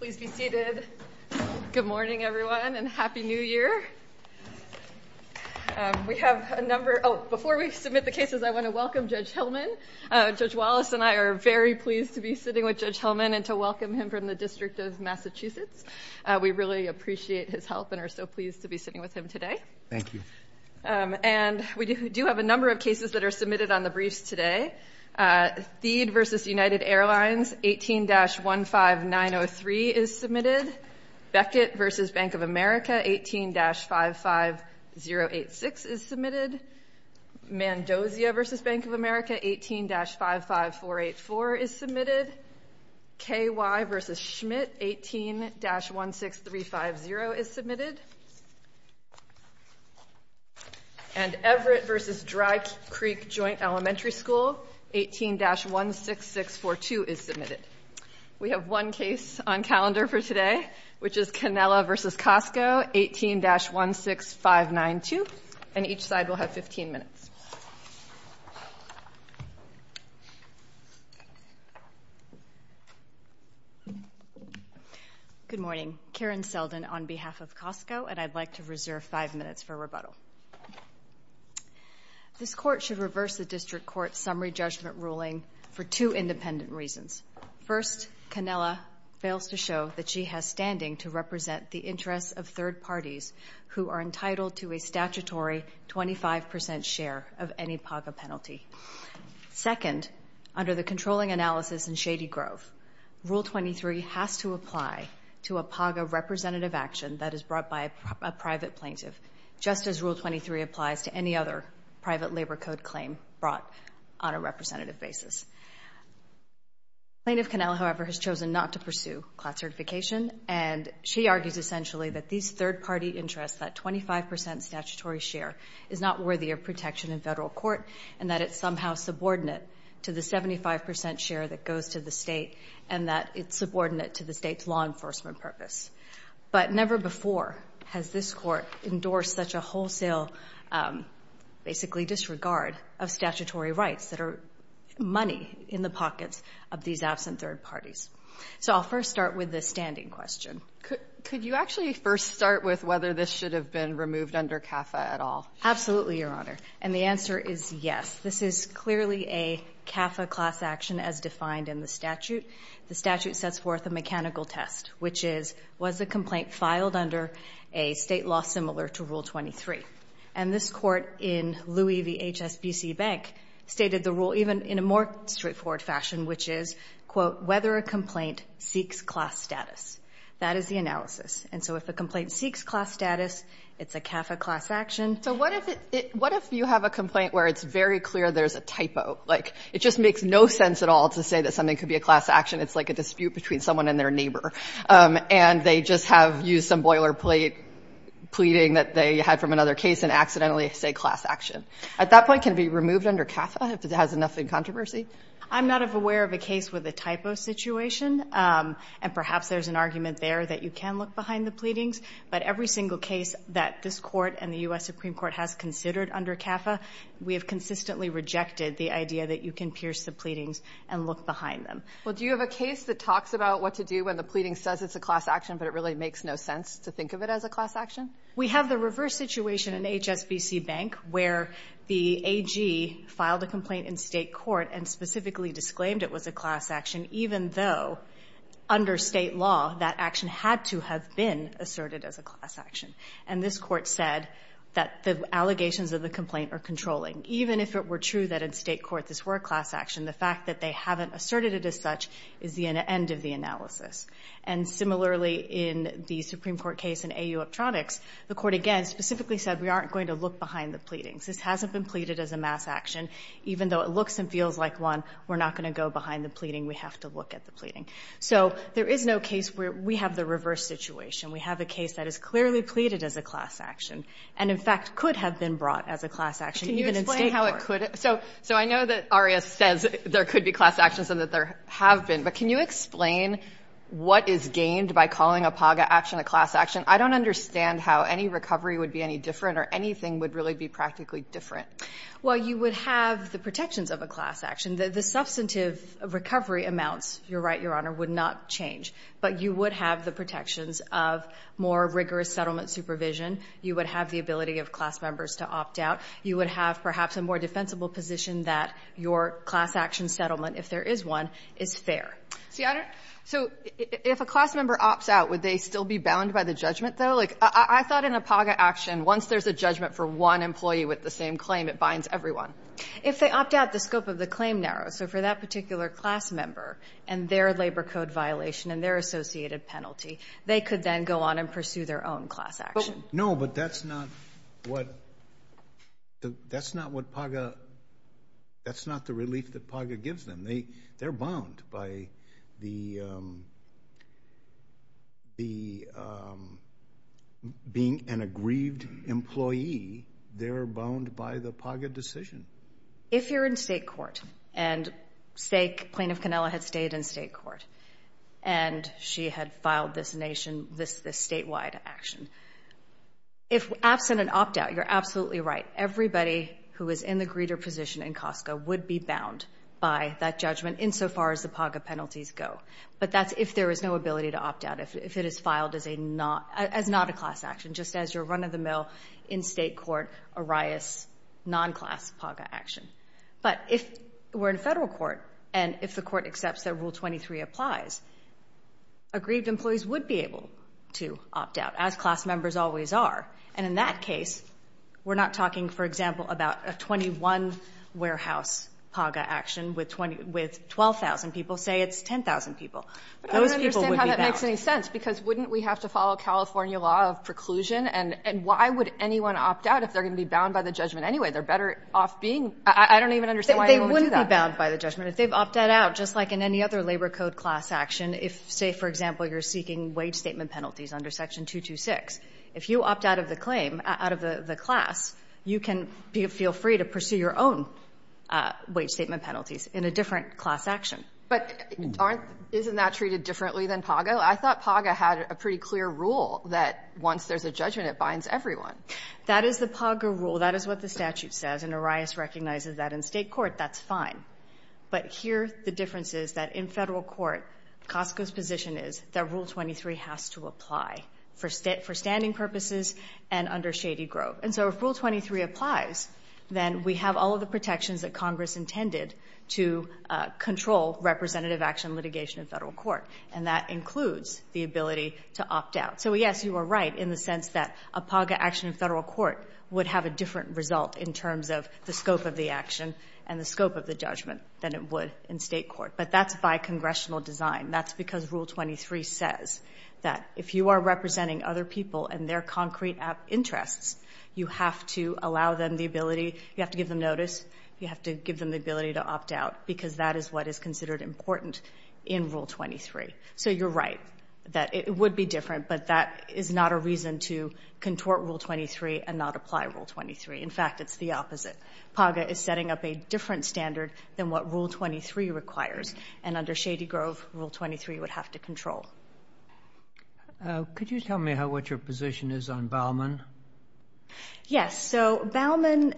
Please be seated. Good morning everyone and happy new year. We have a number, oh before we submit the cases I want to welcome Judge Hillman. Judge Wallace and I are very pleased to be sitting with Judge Hillman and to welcome him from the District of Massachusetts. We really appreciate his help and are so pleased to be sitting with him today. Thank you. And we do have a number of cases that are submitted on the briefs today. Thede v. United Airlines 18-15903 is submitted. Beckett v. Bank of America 18-55086 is submitted. Mendoza v. Bank of America 18-55484 is submitted. KY v. Schmidt 18-16350 is submitted. And Everett v. Dry Creek Joint Elementary School 18-16642 is submitted. We have one case on calendar for today which is Canela v. COSTCO 18-16592 and each side will have 15 minutes. Canela v. COSTCO 18-16592 Good morning. Karen Selden on behalf of COSTCO and I'd like to reserve five minutes for rebuttal. This Court should reverse the District Court's summary judgment ruling for two independent reasons. First, Canela fails to show that she has standing to represent the interests of third of any PAGA penalty. Second, under the controlling analysis in Shady Grove, Rule 23 has to apply to a PAGA representative action that is brought by a private plaintiff, just as Rule 23 applies to any other private labor code claim brought on a representative basis. Plaintiff Canela, however, has chosen not to pursue class certification and she argues that these third party interests, that 25% statutory share, is not worthy of protection in federal court and that it's somehow subordinate to the 75% share that goes to the state and that it's subordinate to the state's law enforcement purpose. But never before has this Court endorsed such a wholesale basically disregard of statutory rights that are money in the pockets of these Could you actually first start with whether this should have been removed under CAFA at all? Absolutely, Your Honor. And the answer is yes. This is clearly a CAFA class action as defined in the statute. The statute sets forth a mechanical test, which is, was the complaint filed under a state law similar to Rule 23? And this Court in Louis v. HSBC Bank stated the rule in a more straightforward fashion, which is, quote, whether a complaint seeks class status. That is the analysis. And so if a complaint seeks class status, it's a CAFA class action. So what if you have a complaint where it's very clear there's a typo? Like, it just makes no sense at all to say that something could be a class action. It's like a dispute between someone and their neighbor. And they just have used some boilerplate pleading that they had from another case and accidentally say class action. At that point, can it be removed under CAFA if it has enough in controversy? I'm not aware of a case with a typo situation. And perhaps there's an argument there that you can look behind the pleadings. But every single case that this Court and the U.S. Supreme Court has considered under CAFA, we have consistently rejected the idea that you can pierce the pleadings and look behind them. Well, do you have a case that talks about what to do when the pleading says it's a class action, but it really makes no sense to think of it as a class action? We have the reverse situation in HSBC Bank where the AG filed a complaint in State court and specifically disclaimed it was a class action, even though under State law, that action had to have been asserted as a class action. And this Court said that the allegations of the complaint are controlling. Even if it were true that in State court this were a class action, the fact that they haven't asserted it as such is the end of the analysis. And similarly, in the Supreme Court case in AU Optronics, the Court again specifically said we aren't going to look behind the pleadings. This hasn't been pleaded as a mass action. Even though it looks and feels like one, we're not going to go behind the pleading. We have to look at the pleading. So there is no case where we have the reverse situation. We have a case that is clearly pleaded as a class action and, in fact, could have been brought as a class action even in State court. Can you explain how it could? So I know that there have been. But can you explain what is gained by calling a PAGA action a class action? I don't understand how any recovery would be any different or anything would really be practically different. Well, you would have the protections of a class action. The substantive recovery amounts, you're right, Your Honor, would not change. But you would have the protections of more rigorous settlement supervision. You would have the ability of class members to opt out. You would have perhaps a more defensible position that your class action settlement, if there is one, is fair. So, Your Honor, if a class member opts out, would they still be bound by the judgment, though? I thought in a PAGA action, once there's a judgment for one employee with the same claim, it binds everyone. If they opt out, the scope of the claim narrows. So for that particular class member and their labor code violation and their associated penalty, they could then go on and pursue their own class action. No, but that's not the relief that PAGA gives them. They're bound by being an aggrieved employee. They're bound by the PAGA decision. If you're in state court, and Plaintiff Cannella had stayed in state court, and she had filed this nationwide action, if absent an opt-out, you're absolutely right. Everybody who is in the greeter position in Costco would be bound by that judgment in so far as the PAGA penalties go. But that's if there is no ability to opt out, if it is filed as not a class action, just as your run-of-the-mill in state court, arias, non-class PAGA action. But if we're in Federal court, and if the court accepts that Rule 23 applies, aggrieved employees would be able to opt out, as class members always are. And in that case, we're not talking, for example, about a 21-warehouse PAGA action with 12,000 people. Say it's 10,000 people. Those people would be bound. But I don't understand how that makes any sense, because wouldn't we have to follow California law of preclusion? And why would anyone opt out if they're going to be bound by the judgment anyway? They're better off being – I don't even understand why anyone would do that. They wouldn't be bound by the judgment. If they've opted out, just like in any other labor code class action, if, say, for example, you're seeking wage statement penalties under Section 226, if you opt out of the claim, out of the class, you can feel free to pursue your own wage statement penalties in a different class action. But aren't – isn't that treated differently than PAGA? I thought PAGA had a pretty clear rule that once there's a judgment, it binds everyone. That is the PAGA rule. That is what the statute says. And Arias recognizes that in state court, that's fine. But here, the difference is that in federal court, Costco's position is that Rule 23 has to apply for standing purposes and under Shady Grove. And so if Rule 23 applies, then we have all of the protections that Congress intended to control representative action litigation in federal court. And that includes the ability to opt out. So, yes, you are right in the sense that a PAGA action in federal court would have a different result in terms of the scope of the action and the scope of the judgment than it would in state court. But that's by congressional design. That's because Rule 23 says that if you are representing other people and their concrete interests, you have to allow them the ability – you have to give them notice, you have to give them the ability to opt out, because that is what is considered important in Rule 23. So you are right that it would be different, but that is not a reason to contort Rule 23 and not apply Rule 23. In fact, it's the opposite. PAGA is setting up a different standard than what Rule 23 requires. And under Shady Grove, Rule 23 would have to control. Roberts. Could you tell me what your position is on Bauman? O'Connell. Yes. So Bauman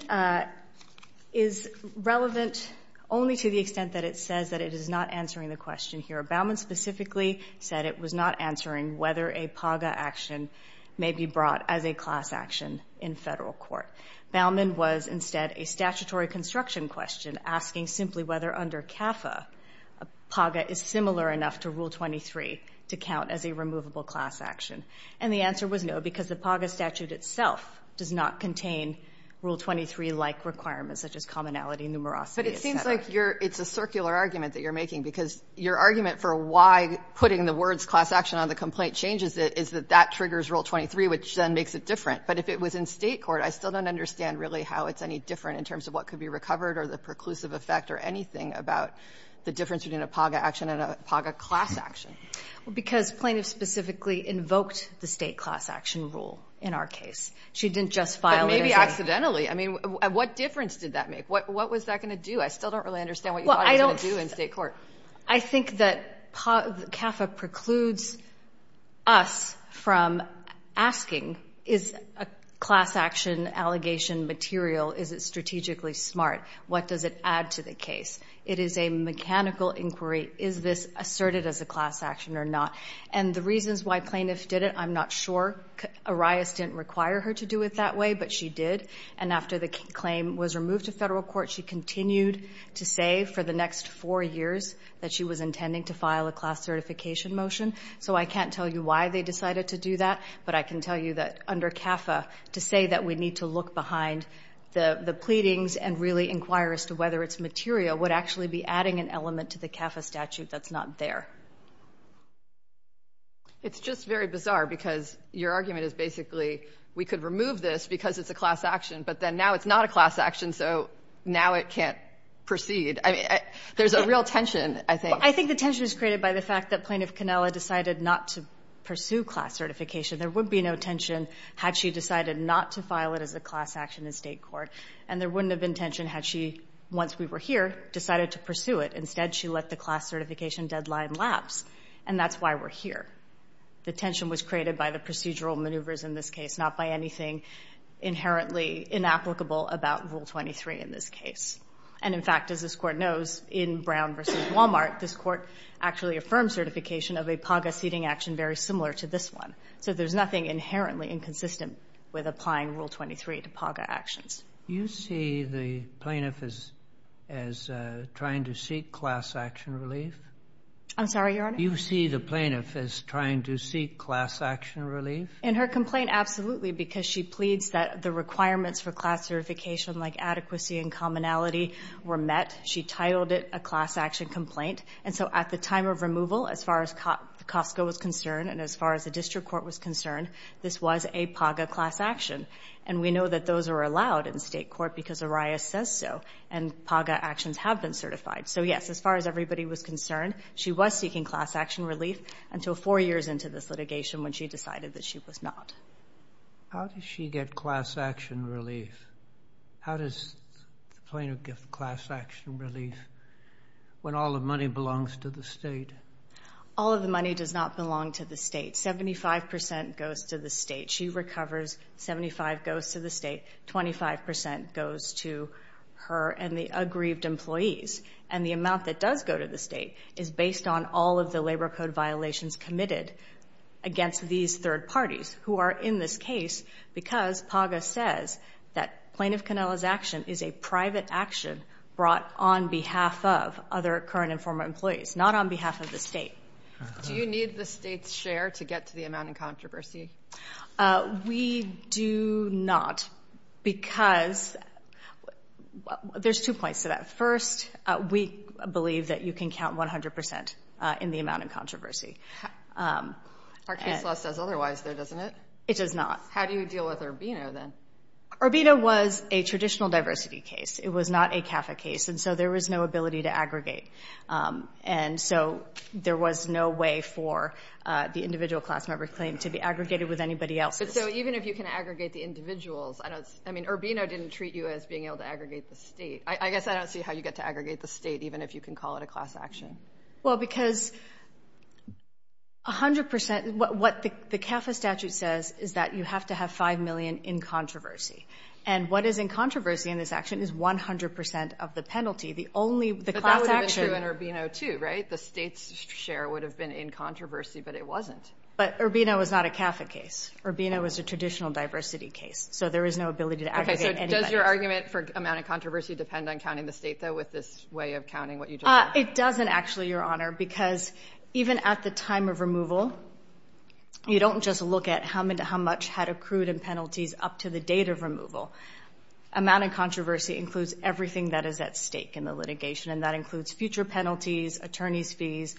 is relevant only to the extent that it says that it is not answering the question here. Bauman specifically said it was not answering whether a PAGA action may be brought as a class action in federal court. Bauman was instead a statutory construction question asking simply whether under CAFA a PAGA is similar enough to Rule 23 to count as a removable class action. And the answer was no, because the PAGA statute itself does not contain Rule 23-like requirements such as commonality, numerosity, et cetera. It's a circular argument that you're making, because your argument for why putting the words class action on the complaint changes it is that that triggers Rule 23, which then makes it different. But if it was in state court, I still don't understand really how it's any different in terms of what could be recovered or the preclusive effect or anything about the difference between a PAGA action and a PAGA class action. Well, because plaintiffs specifically invoked the state class action rule in our case. She didn't just file it as a — But maybe accidentally. I mean, what difference did that make? What was that going to do? I still don't really understand what you thought it was going to do in state court. I think that CAFA precludes us from asking, is a class action allegation material? Is it strategically smart? What does it add to the case? It is a mechanical inquiry. Is this asserted as a class action or not? And the reasons why plaintiffs did it, I'm not sure. Arias didn't require her to do it that way, but she did. And after the claim was removed to federal court, she continued to say for the next four years that she was intending to file a class certification motion. So I can't tell you why they decided to do that, but I can tell you that under CAFA, to say that we need to look behind the pleadings and really inquire as to whether it's material would actually be adding an element to the CAFA statute that's not there. It's just very bizarre because your argument is basically we could remove this because it's a class action, but then now it's not a class action, so now it can't proceed. I mean, there's a real tension, I think. I think the tension is created by the fact that Plaintiff Cannella decided not to pursue class certification. There would be no tension had she decided not to file it as a class action in state court. And there wouldn't have been tension had she, once we were here, decided to pursue it. Instead, she let the class certification deadline lapse, and that's why we're here. The tension was created by the procedural maneuvers in this case, not by anything inherently inapplicable about Rule 23 in this case. And, in fact, as this Court knows, in Brown v. Walmart, this Court actually affirmed certification of a PAGA seating action very similar to this one. So there's nothing inherently inconsistent with applying Rule 23 to PAGA actions. You see the plaintiff as trying to seek class action relief? I'm sorry, Your Honor? You see the plaintiff as trying to seek class action relief? In her complaint, absolutely, because she pleads that the requirements for class certification, like adequacy and commonality, were met. She titled it a class action complaint. And so at the time of removal, as far as Costco was concerned and as far as the District Court was concerned, this was a PAGA class action. And we know that those are allowed in state court because Arias says so, and PAGA actions have been certified. So, yes, as far as everybody was concerned, she was seeking class action relief until four years into this litigation when she decided that she was not. How does she get class action relief? How does the plaintiff get class action relief when all the money belongs to the state? All of the money does not belong to the state. Seventy-five percent goes to the state. She recovers. Seventy-five goes to the state. Twenty-five percent goes to her and the aggrieved employees. And the amount that does go to the state is based on all of the labor code violations committed against these third parties who are in this case because PAGA says that Plaintiff Cannella's action is a private action brought on behalf of other current and former employees, not on behalf of the state. Do you need the state's share to get to the amount in controversy? We do not, because there's two points to that. First, we believe that you can count 100 percent in the amount in controversy. Our case law says otherwise, though, doesn't it? It does not. How do you deal with Urbino, then? Urbino was a traditional diversity case. It was not a CAFA case. And so there was no ability to aggregate. And so there was no way for the individual class member claim to be aggregated with anybody else. So even if you can aggregate the individuals, I mean, Urbino didn't treat you as being able to aggregate the state. I guess I don't see how you get to aggregate the state, even if you can call it a class action. Well, because 100 percent, what the CAFA statute says is that you have to have five million in controversy. And what is in controversy in this action is 100 percent of the penalty. But that would have been true in Urbino, too, right? The state's share would have been in controversy, but it wasn't. But Urbino was not a CAFA case. Urbino was a traditional diversity case. So there was no ability to aggregate anybody else. Okay, so does your argument for amount of controversy depend on counting the state, though, with this way of counting what you just said? It doesn't, actually, Your Honor, because even at the time of removal, you don't just look at how much had accrued in penalties up to the date of removal. Amount of controversy includes everything that is at stake in the litigation, and that includes future penalties, attorney's fees,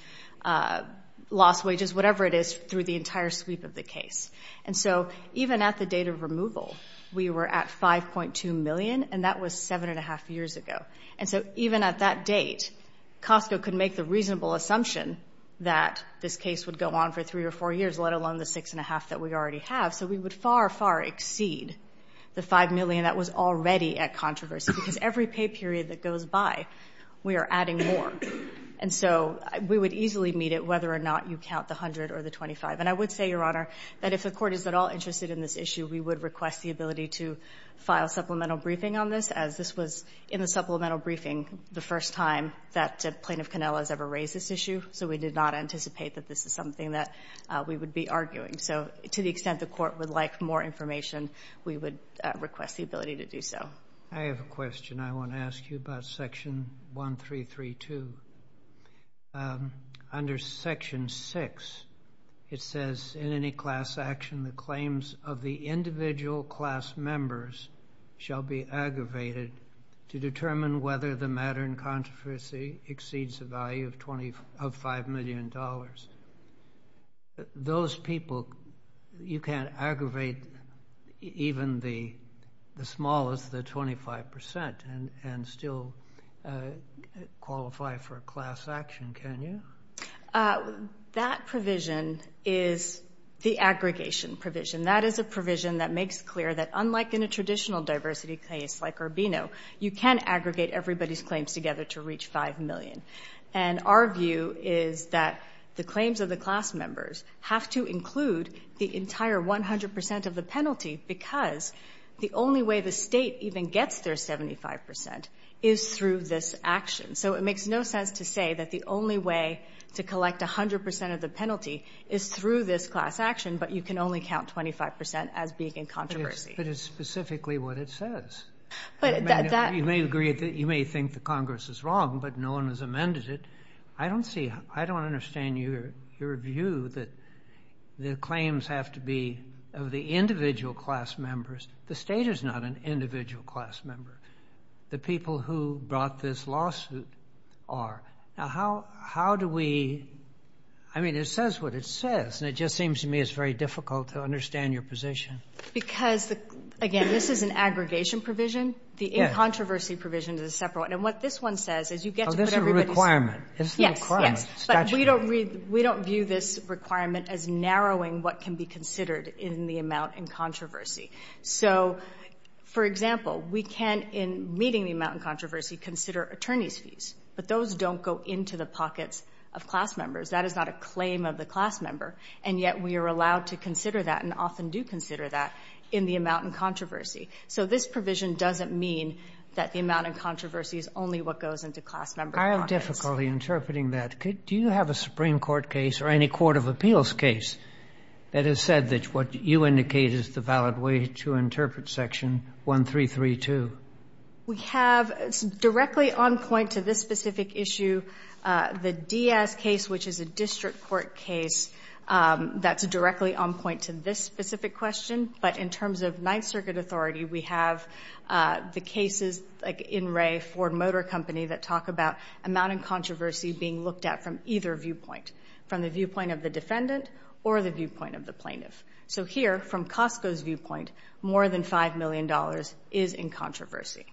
lost wages, whatever it is, through the entire sweep of the case. And so even at the date of removal, we were at 5.2 million, and that was seven and a half years ago. And so even at that date, Costco could make the reasonable assumption that this case would go on for three or four years, let alone the six and a half that we already have. So we would far, far exceed the 5 million that was already at controversy, because every pay period that goes by, we are adding more. And so we would easily meet it whether or not you count the 100 or the 25. And I would say, Your Honor, that if the Court is at all interested in this issue, we would request the ability to file supplemental briefing on this, as this was, in the supplemental briefing, the first time that Plaintiff Cannella has ever raised this issue. So we did not anticipate that this is something that we would be arguing. So to the extent the Court would like more information, we would request the ability to do so. I have a question I want to ask you about Section 1332. Under Section 6, it says, in any class action, the claims of the individual class members shall be aggravated to determine whether the matter in controversy exceeds the value of 5 million dollars. Those people, you can't aggravate even the smallest, the 25 percent, and still qualify for a class action, can you? That provision is the aggregation provision. That is a provision that makes clear that, unlike in a traditional diversity case like Urbino, you can aggregate everybody's claims together to reach 5 million. And our view is that the claims of the class members have to include the entire 100 percent of the penalty because the only way the State even gets their to collect 100 percent of the penalty is through this class action, but you can only count 25 percent as being in controversy. But it's specifically what it says. You may agree that you may think the Congress is wrong, but no one has amended it. I don't see, I don't understand your view that the claims have to be of the individual class members. The State is not an individual class member. The people who brought this lawsuit are. Now, how do we, I mean, it says what it says, and it just seems to me it's very difficult to understand your position. Because, again, this is an aggregation provision. The in-controversy provision is a separate one. And what this one says is you get to put everybody's... Oh, this is a requirement. This is the requirement. Statutory. Yes, yes. But we don't view this requirement as narrowing what can be considered in the Then in meeting the amount in controversy, consider attorney's fees. But those don't go into the pockets of class members. That is not a claim of the class member. And yet we are allowed to consider that, and often do consider that, in the amount in controversy. So this provision doesn't mean that the amount in controversy is only what goes into class member's pockets. I have difficulty interpreting that. Do you have a Supreme Court case or any court of appeals case that has said that what you indicate is the valid way to interpret section 1332? We have directly on point to this specific issue, the Diaz case, which is a district court case, that's directly on point to this specific question. But in terms of Ninth Circuit authority, we have the cases like In re Ford Motor Company that talk about amount in controversy being looked at from either viewpoint, from the viewpoint of the defendant or the viewpoint of the plaintiff. So here, from Costco's viewpoint, more than $5 million is in controversy.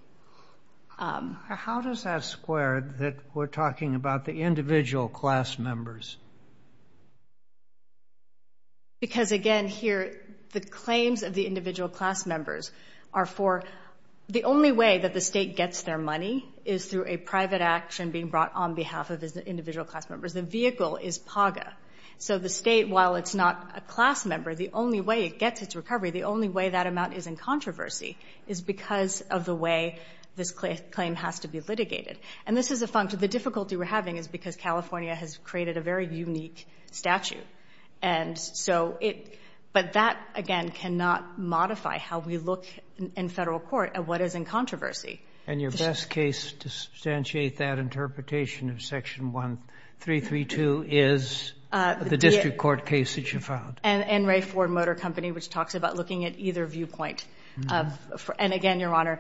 How does that square that we're talking about the individual class members? Because again, here, the claims of the individual class members are for the only way that the state gets their money is through a private action being brought on behalf of the individual class members. The vehicle is PAGA. So the state, while it's not a class member, the only way it gets its recovery, the only way that amount is in controversy is because of the way this claim has to be litigated. And this is a function of the difficulty we're having is because California has created a very unique statute. And so it — but that, again, cannot modify how we look in Federal court at what is in controversy. And your best case to substantiate that interpretation of Section 1332 is the district court case that you filed. In re Ford Motor Company, which talks about looking at either viewpoint. And again, Your Honor,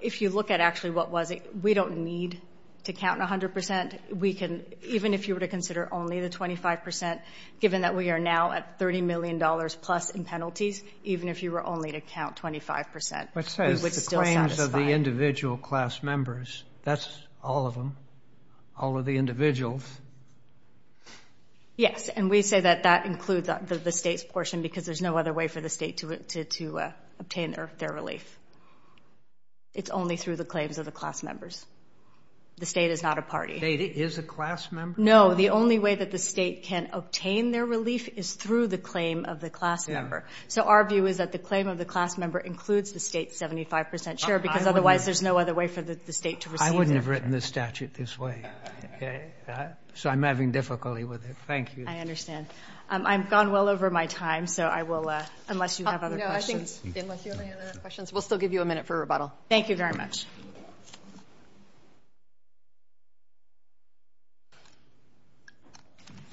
if you look at actually what was it, we don't need to count 100 percent. We can, even if you were to consider only the 25 percent, given that we are now at $30 million plus in penalties, even if you were only to count 25 percent, we would still satisfy. The claims of the individual class members, that's all of them, all of the individuals. Yes. And we say that that includes the state's portion because there's no other way for the state to obtain their relief. It's only through the claims of the class members. The state is not a party. The state is a class member? No. The only way that the state can obtain their relief is through the claim of the class member. So our view is that the claim of the class member includes the 25 percent share, because otherwise there's no other way for the state to receive their relief. I wouldn't have written the statute this way. So I'm having difficulty with it. Thank you. I understand. I've gone well over my time, so I will, unless you have other questions. No, I think, unless you have any other questions, we'll still give you a minute for rebuttal. Thank you very much.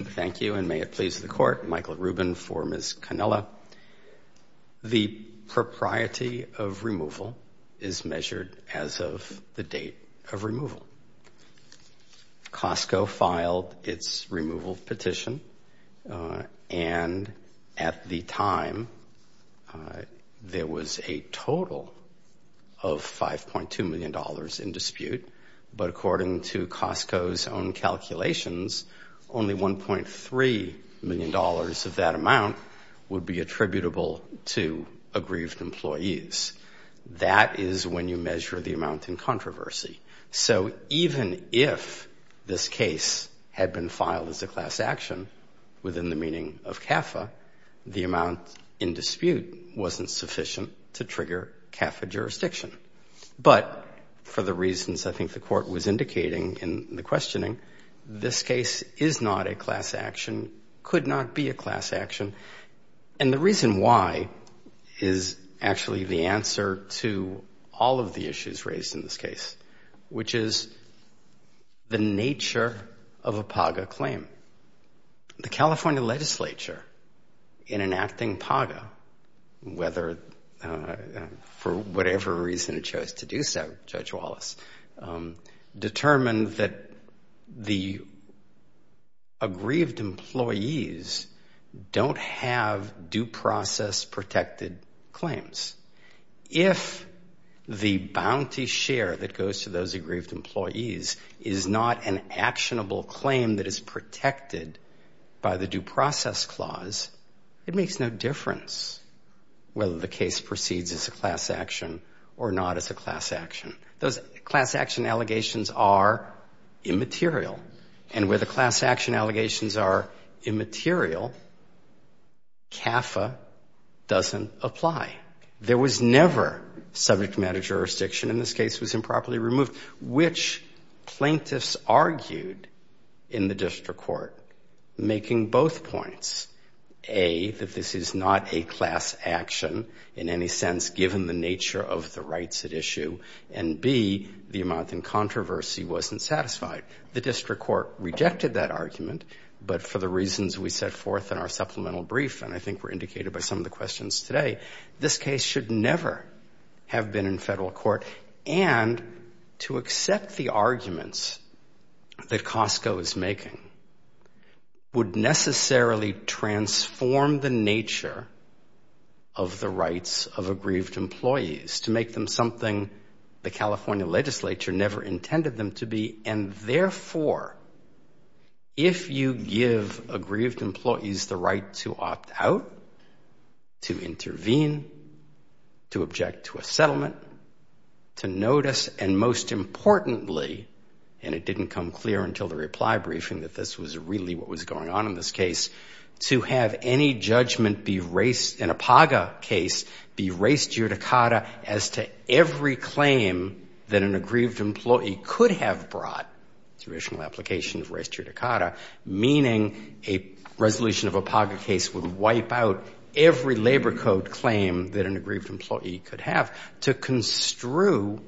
Thank you. And may it please the Court, Michael Rubin for Ms. Cannella. The propriety of removal is measured as of the date of removal. Costco filed its removal petition, and at the time, there was a total of $5.2 million in dispute. But according to Costco's own calculations, only $1.3 million of that would be attributable to aggrieved employees. That is when you measure the amount in controversy. So even if this case had been filed as a class action within the meaning of CAFA, the amount in dispute wasn't sufficient to trigger CAFA jurisdiction. But for the reasons I think the Court was indicating in the reason why is actually the answer to all of the issues raised in this case, which is the nature of a PAGA claim. The California legislature, in enacting PAGA, whether for whatever reason it chose to do so, Judge Wallace, determined that the aggrieved employees don't have due process protected claims. If the bounty share that goes to those aggrieved employees is not an actionable claim that is protected by the due process clause, it makes no difference whether the case proceeds as a class action or not as a class action. Those are immaterial. And where the class action allegations are immaterial, CAFA doesn't apply. There was never subject matter jurisdiction, and this case was improperly removed, which plaintiffs argued in the district court making both points. A, that this is not a class action in any sense given the The district court rejected that argument, but for the reasons we set forth in our supplemental brief, and I think were indicated by some of the questions today, this case should never have been in federal court. And to accept the arguments that Costco is making would necessarily transform the nature of the rights of aggrieved employees to make them something the California legislature never intended them to be. And therefore, if you give aggrieved employees the right to opt out, to intervene, to object to a settlement, to notice, and most importantly, and it didn't come clear until the reply briefing that this was really what was going on in this case, to have any an aggrieved employee could have brought to additional application of res judicata, meaning a resolution of a POGA case would wipe out every labor code claim that an aggrieved employee could have, to construe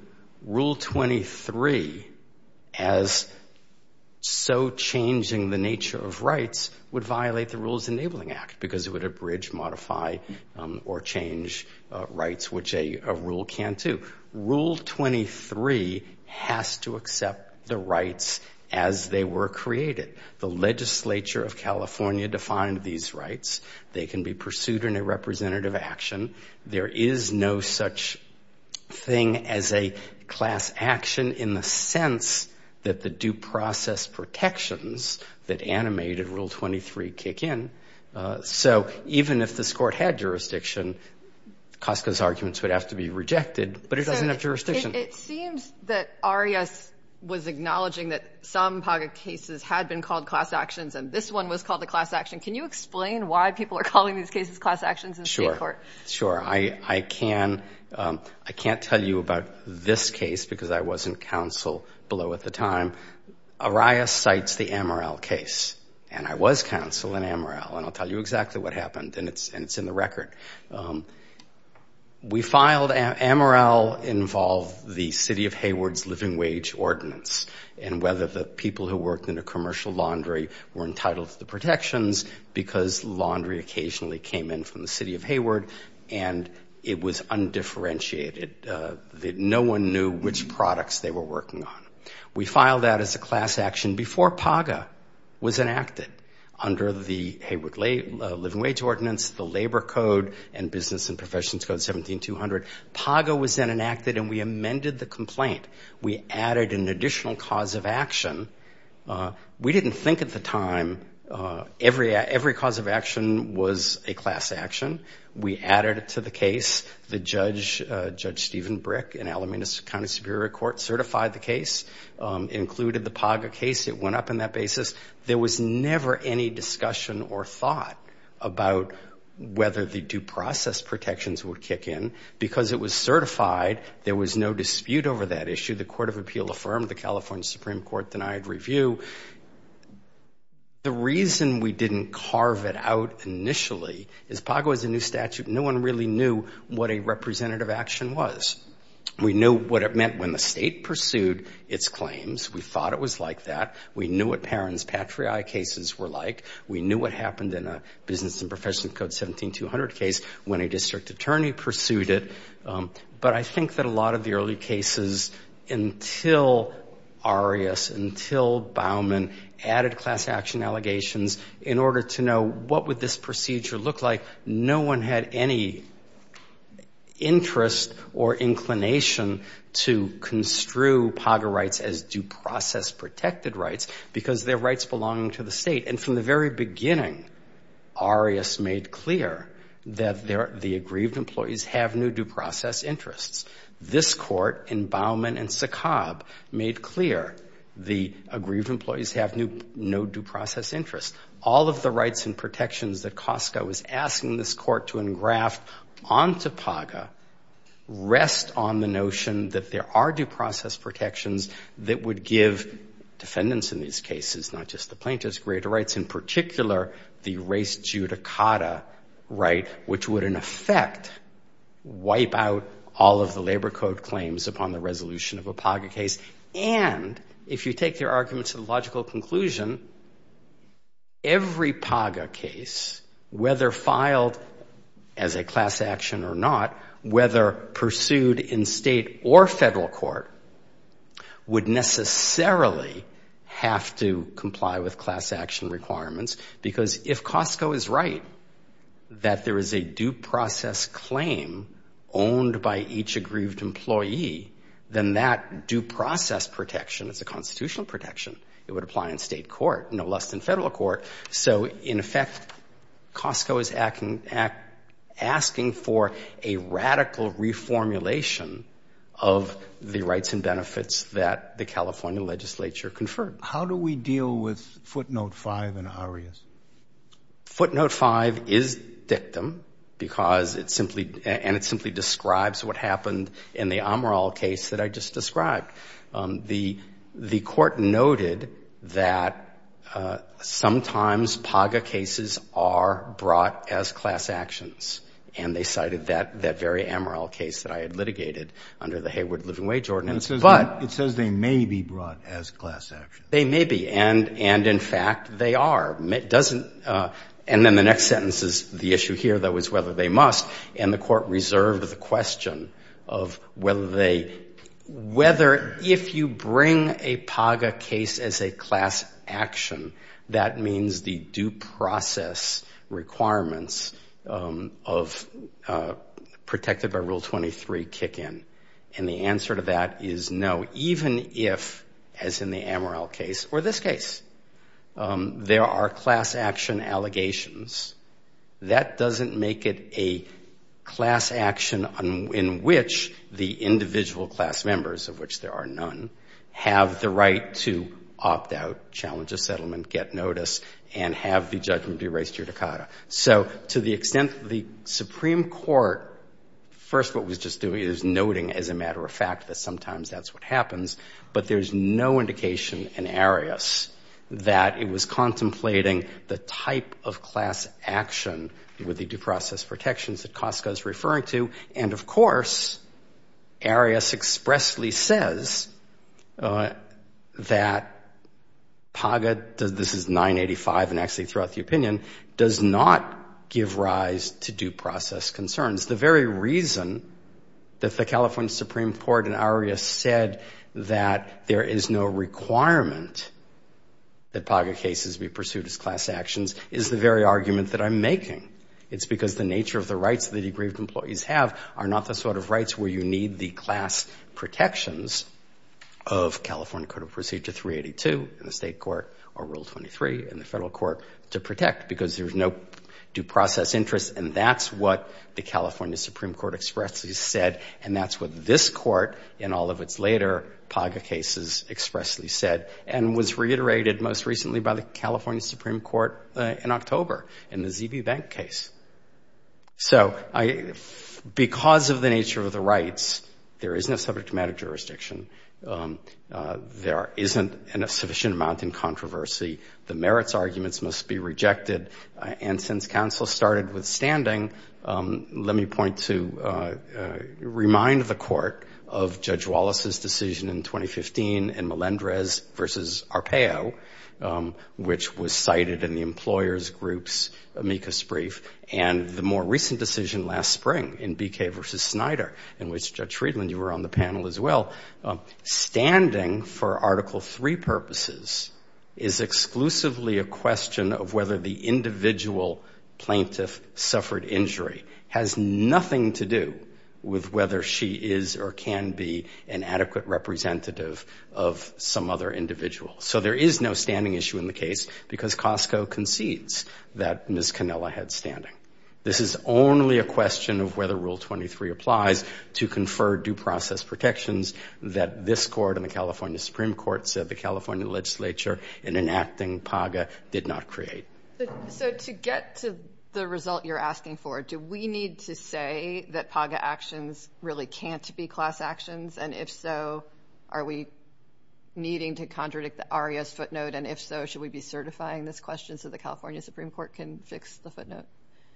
Rule 23 as so changing the nature of rights would violate the Rules Enabling Act, because it would abridge, modify, or change rights, which a rule can't do. Rule 23 has to accept the rights as they were created. The legislature of California defined these rights. They can be pursued in a representative action. There is no such thing as a class action in the sense that the due process protections that animated Rule 23 kick in. So even if this court had jurisdiction, Coska's arguments would have to be rejected, but it doesn't have jurisdiction. It seems that Arias was acknowledging that some POGA cases had been called class actions, and this one was called the class action. Can you explain why people are calling these cases class actions in state court? Sure, I can. I can't tell you about this case, because I was in counsel below at the time. Arias cites the Amaral case, and I was counsel in Amaral, and I'll tell you exactly what happened, and it's in the record. Amaral involved the City of Hayward's living wage ordinance, and whether the people who worked in a commercial laundry were entitled to the protections, because laundry occasionally came in from the City of Hayward, and it was undifferentiated. No one knew which POGA was enacted under the Hayward living wage ordinance, the Labor Code, and Business and Professions Code 17200. POGA was then enacted, and we amended the complaint. We added an additional cause of action. We didn't think at the time every cause of action was a class action. We added it to the case. The Judge Stephen Brick in Alameda County Superior Court certified the case, included the POGA case. It went up in that basis. There was never any discussion or thought about whether the due process protections would kick in. Because it was certified, there was no dispute over that issue. The Court of Appeal affirmed. The California Supreme Court denied review. The reason we didn't carve it out initially is POGA was a new statute, and no one really knew what a representative action was. We knew what it meant when the state pursued its claims. We thought it was like that. We knew what Perron's Patriai cases were like. We knew what happened in a Business and Professions Code 17200 case when a district attorney pursued it. But I think that a lot of the early cases, until Arias, until Bauman, added class action allegations in order to know what would this procedure look like. No one had any interest or inclination to construe POGA rights as due process protected rights, because they're rights belonging to the state. And from the very beginning, Arias made clear that the aggrieved employees have no due process interests. This Court, in Bauman and Sacab, made clear the aggrieved employees have no due process interest. All of the rights and protections that COSCA was asking this Court to engraft onto POGA rest on the notion that there are due process protections that would give defendants in these cases, not just the plaintiffs, greater rights. In particular, the race judicata right, which would, in effect, wipe out all of the labor code claims upon the resolution of a POGA case. And if you take their arguments to the logical conclusion, every POGA case, whether filed as a class action or not, whether pursued in state or federal court, would necessarily have to comply with class action requirements. Because if COSCA is right, that there is a due process claim owned by each aggrieved employee, then that due process protection is a state court, no less than federal court. So in effect, COSCA is asking for a radical reformulation of the rights and benefits that the California legislature conferred. How do we deal with footnote five in Arias? Footnote five is dictum, because it simply, and it simply describes what I just described. The court noted that sometimes POGA cases are brought as class actions, and they cited that very Amaral case that I had litigated under the Hayward Living Wage Ordinance, but It says they may be brought as class actions. They may be. And in fact, they are. And then the next sentence is the issue here though, is whether they must. And the court reserved the question of whether they, whether, if you bring a POGA case as a class action, that means the due process requirements of protected by Rule 23 kick in. And the answer to that is no, even if, as in the Amaral case or this case, there are class action allegations. That doesn't make it a class action in which the individual class members, of which there are none, have the right to opt out, challenge a settlement, get notice, and have the judgment be raised judicata. So to the extent that the Supreme Court, first, what was just doing is noting as a matter of fact that sometimes that's what happens, but there's no indication in class action with the due process protections that Costco is referring to. And of course, Arias expressly says that POGA does, this is 985 and actually throughout the opinion, does not give rise to due process concerns. The very reason that the California Supreme Court and Arias said that there is no argument that I'm making, it's because the nature of the rights of the degree of employees have are not the sort of rights where you need the class protections of California Code of Procedure 382 in the state court or Rule 23 in the federal court to protect because there's no due process interest. And that's what the California Supreme Court expressly said. And that's what this court in all of its later POGA cases expressly said and was reiterated most recently by the California Supreme Court in October in the ZB Bank case. So because of the nature of the rights, there is no subject matter jurisdiction. There isn't a sufficient amount in controversy. The merits arguments must be rejected. And since counsel started withstanding, let me point to remind the court of Judge Riedland's case in Ohio, which was cited in the employers groups, amicus brief, and the more recent decision last spring in BK versus Snyder, in which Judge Riedland, you were on the panel as well, standing for Article 3 purposes is exclusively a question of whether the individual plaintiff suffered injury has nothing to do with whether she is or can be an adequate representative of some other individual. So there is no standing issue in the case because Costco concedes that Miss Canella had standing. This is only a question of whether Rule 23 applies to confer due process protections that this court in the California Supreme Court said the California legislature in enacting POGA did not create. So to get to the result you're asking for, do we need to say that POGA actions really can't be class actions? And if so, are we needing to contradict the ARIA's footnote? And if so, should we be certifying this question so the California Supreme Court can fix the footnote?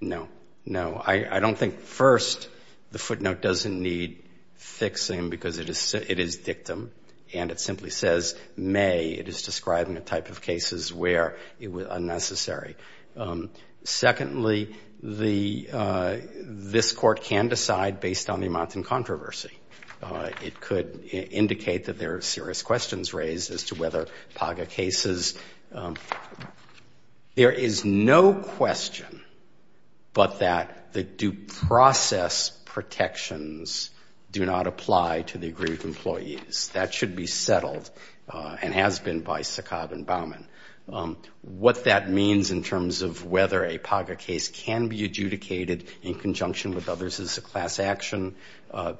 No, no. I don't think first the footnote doesn't need fixing because it is it is dictum and it simply says may. It is describing a type of cases where it was unnecessary. Secondly, the this court can decide based on the amount in controversy. It could indicate that there are serious questions raised as to whether POGA cases. There is no question but that the due process protections do not apply to the aggrieved employees. That should be settled and has been by Sakab and Bauman. What that means in terms of whether a POGA case can be adjudicated in conjunction with others as a class action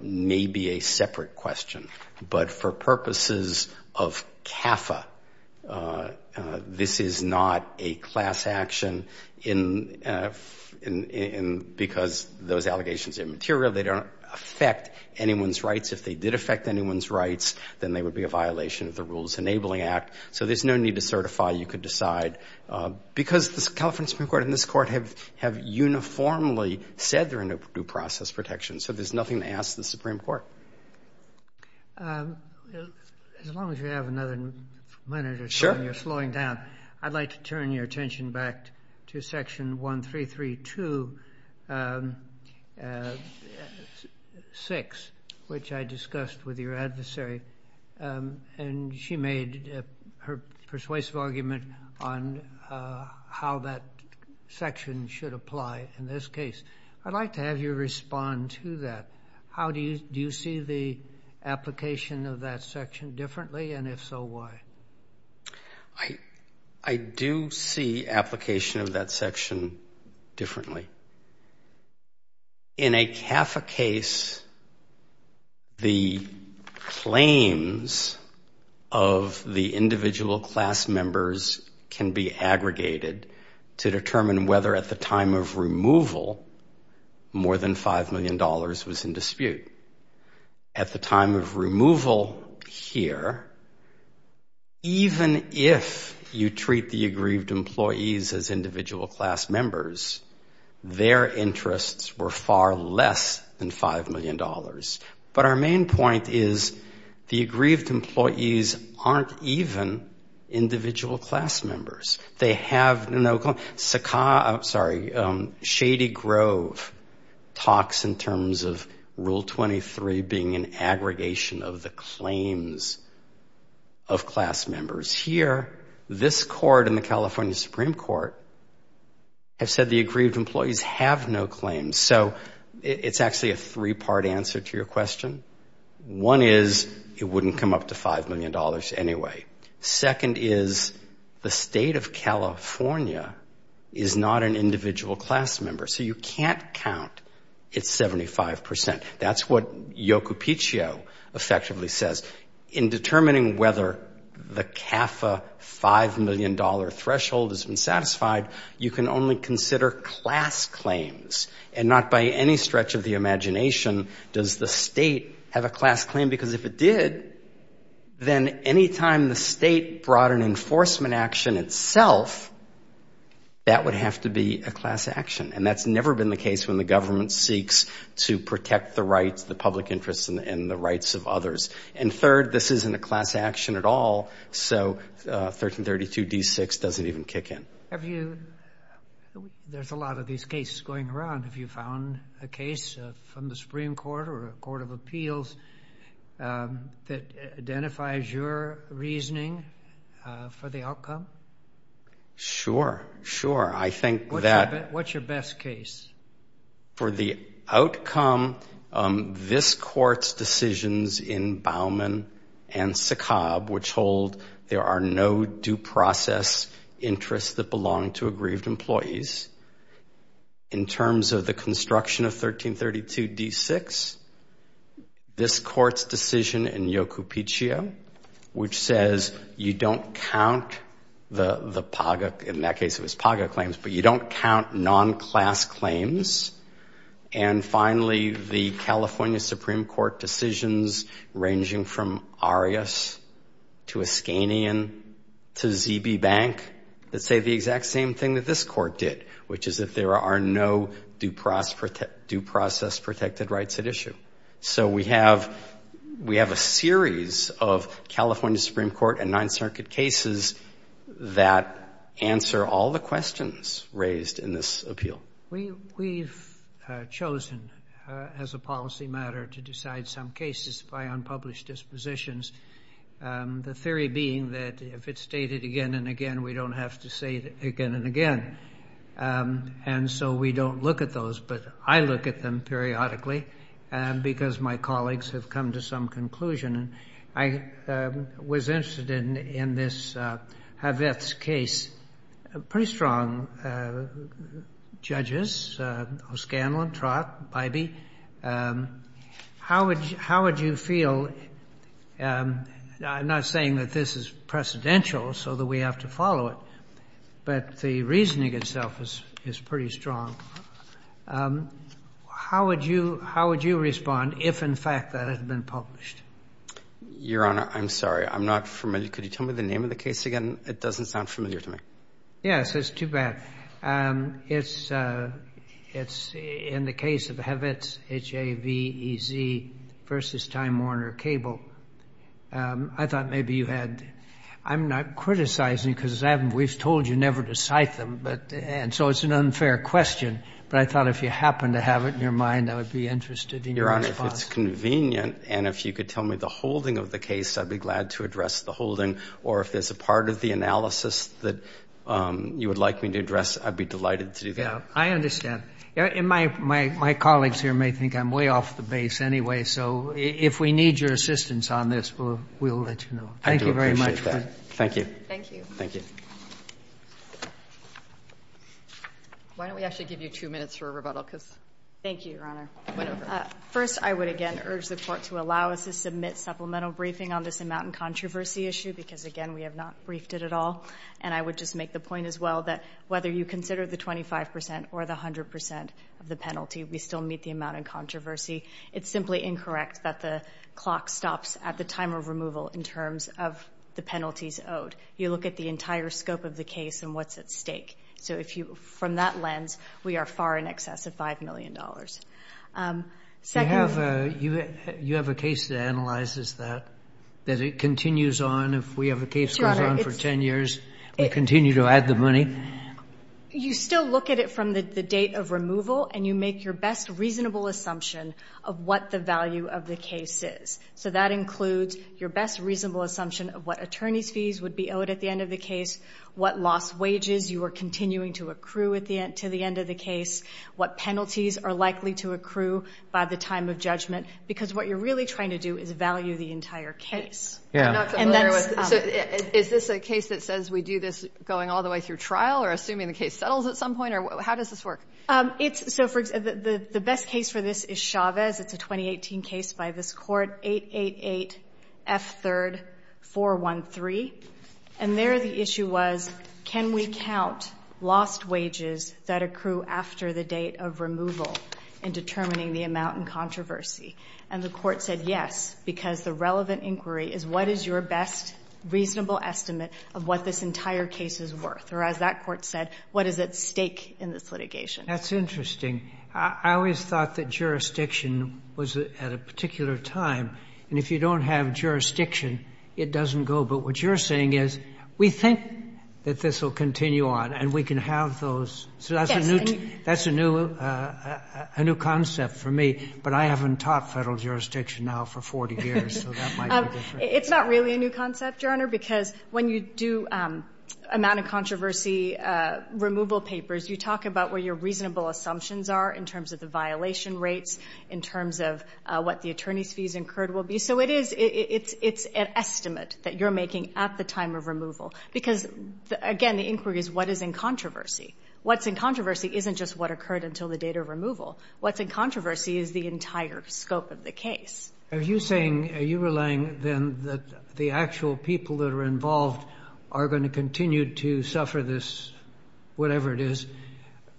may be a separate question. But for purposes of CAFA, this is not a class action because those allegations are immaterial. They don't affect anyone's rights. If they did affect anyone's rights, then they would be a violation of the Rules Enabling Act. So there's no need to certify. You could decide because the California Supreme Court and this court have have uniformly said they're in a due process protection. So there's nothing to ask the Supreme Court. As long as you have another minute or so and you're slowing down, I'd like to turn your attention back to Section 13326, which I discussed with your adversary. And she made her persuasive argument on how that section should apply in this case. I'd like to have you respond to that. How do you do you see the application of that section differently? And if so, why? I do see application of that section differently. In a CAFA case, the claims of the individual class members can be aggregated to determine whether at the time of removal, more than five million dollars was in dispute. At the time of removal here, even if you treat the aggrieved employees as individual class members, their interests were far less than five million dollars. But our main point is the aggrieved employees aren't even individual class members. They have no... Sorry, Shady Grove talks in terms of Rule 23 being an aggregation of the claims of class members. Here, this court and the California Supreme Court have said the aggrieved employees have no claims. So it's actually a three-part answer to your question. One is it wouldn't come up to five million dollars anyway. Second is the state of California is not an individual class member. So you can't count it's 75 percent. That's what Yocopichio effectively says. In determining whether the CAFA five million dollar threshold has been satisfied, you can only consider class claims and not by any stretch of the imagination does the state have a class claim. Because if it did, then any time the state brought an enforcement action itself, that would have to be a class action. And that's never been the case when the government seeks to protect the rights, the public interest and the rights of others. And third, this isn't a class action at all. So 1332 D6 doesn't even kick in. There's a lot of these cases going around. Have you found a case from the Supreme Court or a court of appeals that identifies your reasoning for the outcome? Sure, sure. What's your best case? For the outcome, this court's decisions in Bauman and Sikob, which hold there are no due process interests that belong to aggrieved employees. In terms of the construction of 1332 D6, this court's decision in Yocopichio, which says you don't count the PAGA, in that case it was PAGA claims, but you don't count non-class claims. And finally, the California Supreme Court decisions ranging from Arias to Iskanian to ZB Bank that say the exact same thing that this court did, which is that there are no due process protected rights at issue. So we have a series of California Supreme Court and Ninth Circuit cases that answer all the questions raised in this appeal. We've chosen as a policy matter to decide some cases by unpublished dispositions, the theory being that if it's stated again and again, we don't have to say it again and so we don't look at those. But I look at them periodically because my colleagues have come to some conclusion. I was interested in this Haveth's case. Pretty strong judges, O'Scanlon, Trott, Bybee. How would you feel? I'm not saying that this is precedential so that we have to follow it, but the reasoning itself is pretty strong. How would you respond if, in fact, that had been published? Your Honor, I'm sorry. I'm not familiar. Could you tell me the name of the case again? It doesn't sound familiar to me. Yes. It's too bad. It's in the case of Haveth's, H-A-V-E-Z, versus Time Warner Cable. I thought maybe you had to – I'm not criticizing because we've told you never to cite them, but – and so it's an unfair question, but I thought if you happen to have it in your mind, I would be interested in your response. Your Honor, if it's convenient and if you could tell me the holding of the case, I'd be glad to address the holding. Or if there's a part of the analysis that you would like me to address, I'd be delighted to do that. I understand. And my colleagues here may think I'm way off the base anyway, so if we need your assistance on this, we'll let you know. Thank you very much. I do appreciate that. Thank you. Thank you. Thank you. Why don't we actually give you two minutes for a rebuttal, because – Thank you, Your Honor. First, I would again urge the Court to allow us to submit supplemental briefing on this amount in controversy issue, because again, we have not briefed it at all. And I would just make the point as well that whether you consider the 25 percent or the 100 percent of the penalty, we still meet the amount in controversy. It's simply incorrect that the clock stops at the time of removal in terms of the penalties owed. You look at the entire scope of the case and what's at stake. So if you, from that lens, we are far in excess of $5 million. Second... You have a case that analyzes that, that it continues on. If we have a case that goes on for 10 years, we continue to add the money. You still look at it from the date of removal, and you make your best reasonable assumption of what the value of the case is. So that includes your best reasonable assumption of what attorney's fees would be owed at the end of the case, what lost wages you are continuing to accrue at the end, to the end of the case, what penalties are likely to accrue by the time of judgment. Because what you're really trying to do is value the entire case. Yeah. I'm not familiar with... So is this a case that says we do this going all the way through trial or assuming the case settles at some point? Or how does this work? It's... So for the best case for this is Chavez. It's a 2018 case by this Court, 888 F3rd 413. And there the issue was, can we count lost wages that accrue after the date of removal in determining the amount in controversy? And the Court said yes, because the relevant inquiry is what is your best reasonable estimate of what this entire case is worth? Or as that Court said, what is at stake in this litigation? That's interesting. I always thought that jurisdiction was at a particular time. And if you don't have jurisdiction, it doesn't go. But what you're saying is we think that this will continue on and we can have those. So that's a new... Yes. That's a new concept for me. But I haven't taught Federal jurisdiction now for 40 years, so that might be different. It's not really a new concept, Your Honor, because when you do amount in controversy removal papers, you talk about where your reasonable assumptions are in terms of the violation rates, in terms of what the attorney's fees incurred will be. So it is... it's an estimate that you're making at the time of removal. Because, again, the inquiry is what is in controversy. What's in controversy isn't just what occurred until the date of removal. What's in controversy is the entire scope of the case. Are you saying... are you relying, then, that the actual people that are involved are going to continue to suffer this, whatever it is,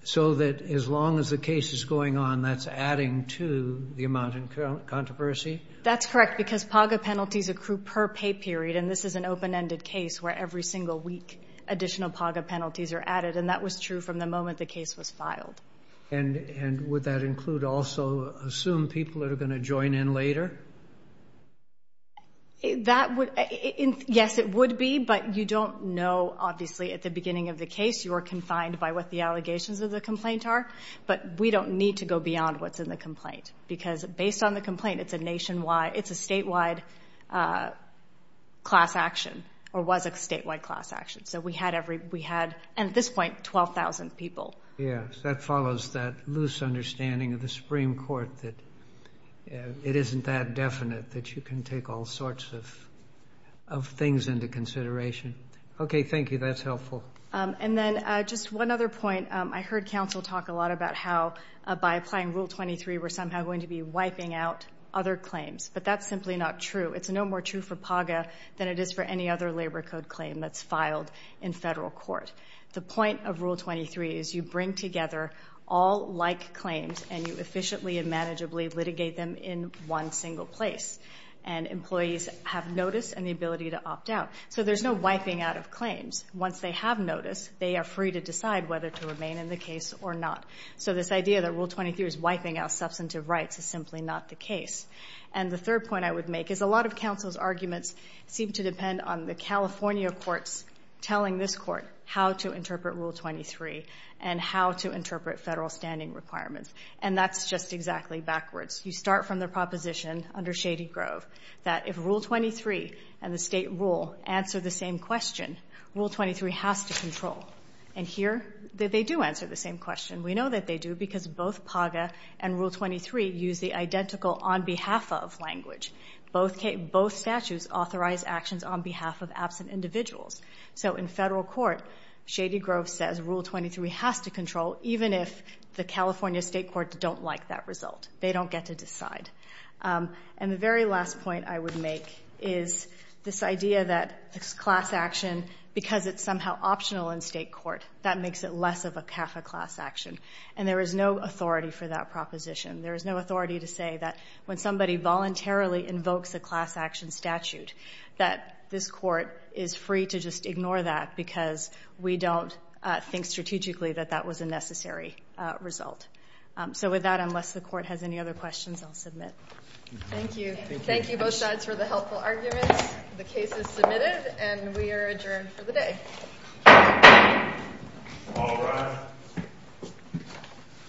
so that as long as the case is going on, that's adding to the amount in controversy? That's correct, because PAGA penalties accrue per pay period, and this is an open-ended case where every single week additional PAGA penalties are added. And that was true from the moment the case was filed. And would that include also... assume people are going to join in later? That would... yes, it would be, but you don't know, obviously, at the beginning of the case. You are confined by what the allegations of the complaint are. But we don't need to go beyond what's in the complaint. Because based on the complaint, it's a nationwide... it's a statewide class action, or was a statewide class action. So we had every... we had, at this point, 12,000 people. Yes. That follows that loose understanding of the Supreme Court that it isn't that definite that you can take all sorts of things into consideration. Okay. Thank you. That's helpful. And then, just one other point. I heard counsel talk a lot about how, by applying Rule 23, we're somehow going to be wiping out other claims. But that's simply not true. It's no more true for PAGA than it is for any other labor code claim that's filed in federal court. The point of Rule 23 is you bring together all like claims, and you efficiently and manageably litigate them in one single place. And employees have notice and the ability to opt out. So there's no wiping out of claims. Once they have notice, they are free to decide whether to remain in the case or not. So this idea that Rule 23 is wiping out substantive rights is simply not the case. And the third point I would make is a lot of counsel's arguments seem to depend on the California courts telling this court how to interpret Rule 23 and how to interpret federal standing requirements. And that's just exactly backwards. You start from the proposition under Shady Grove that if Rule 23 and the state rule answer the same question, Rule 23 has to control. And here, they do answer the same question. We know that they do because both PAGA and Rule 23 use the identical on behalf of language. Both statutes authorize actions on behalf of absent individuals. So in federal court, Shady Grove says Rule 23 has to control even if the California state courts don't like that result. They don't get to decide. And the very last point I would make is this idea that this class action, because it's somehow optional in state court, that makes it less of a CAFA class action. And there is no authority for that proposition. There is no authority to say that when somebody voluntarily invokes a class action statute, that this court is free to just ignore that because we don't think strategically that that was a necessary result. So with that, unless the court has any other questions, I'll submit. Thank you. Thank you both sides for the helpful arguments. The case is submitted, and we are adjourned for the day.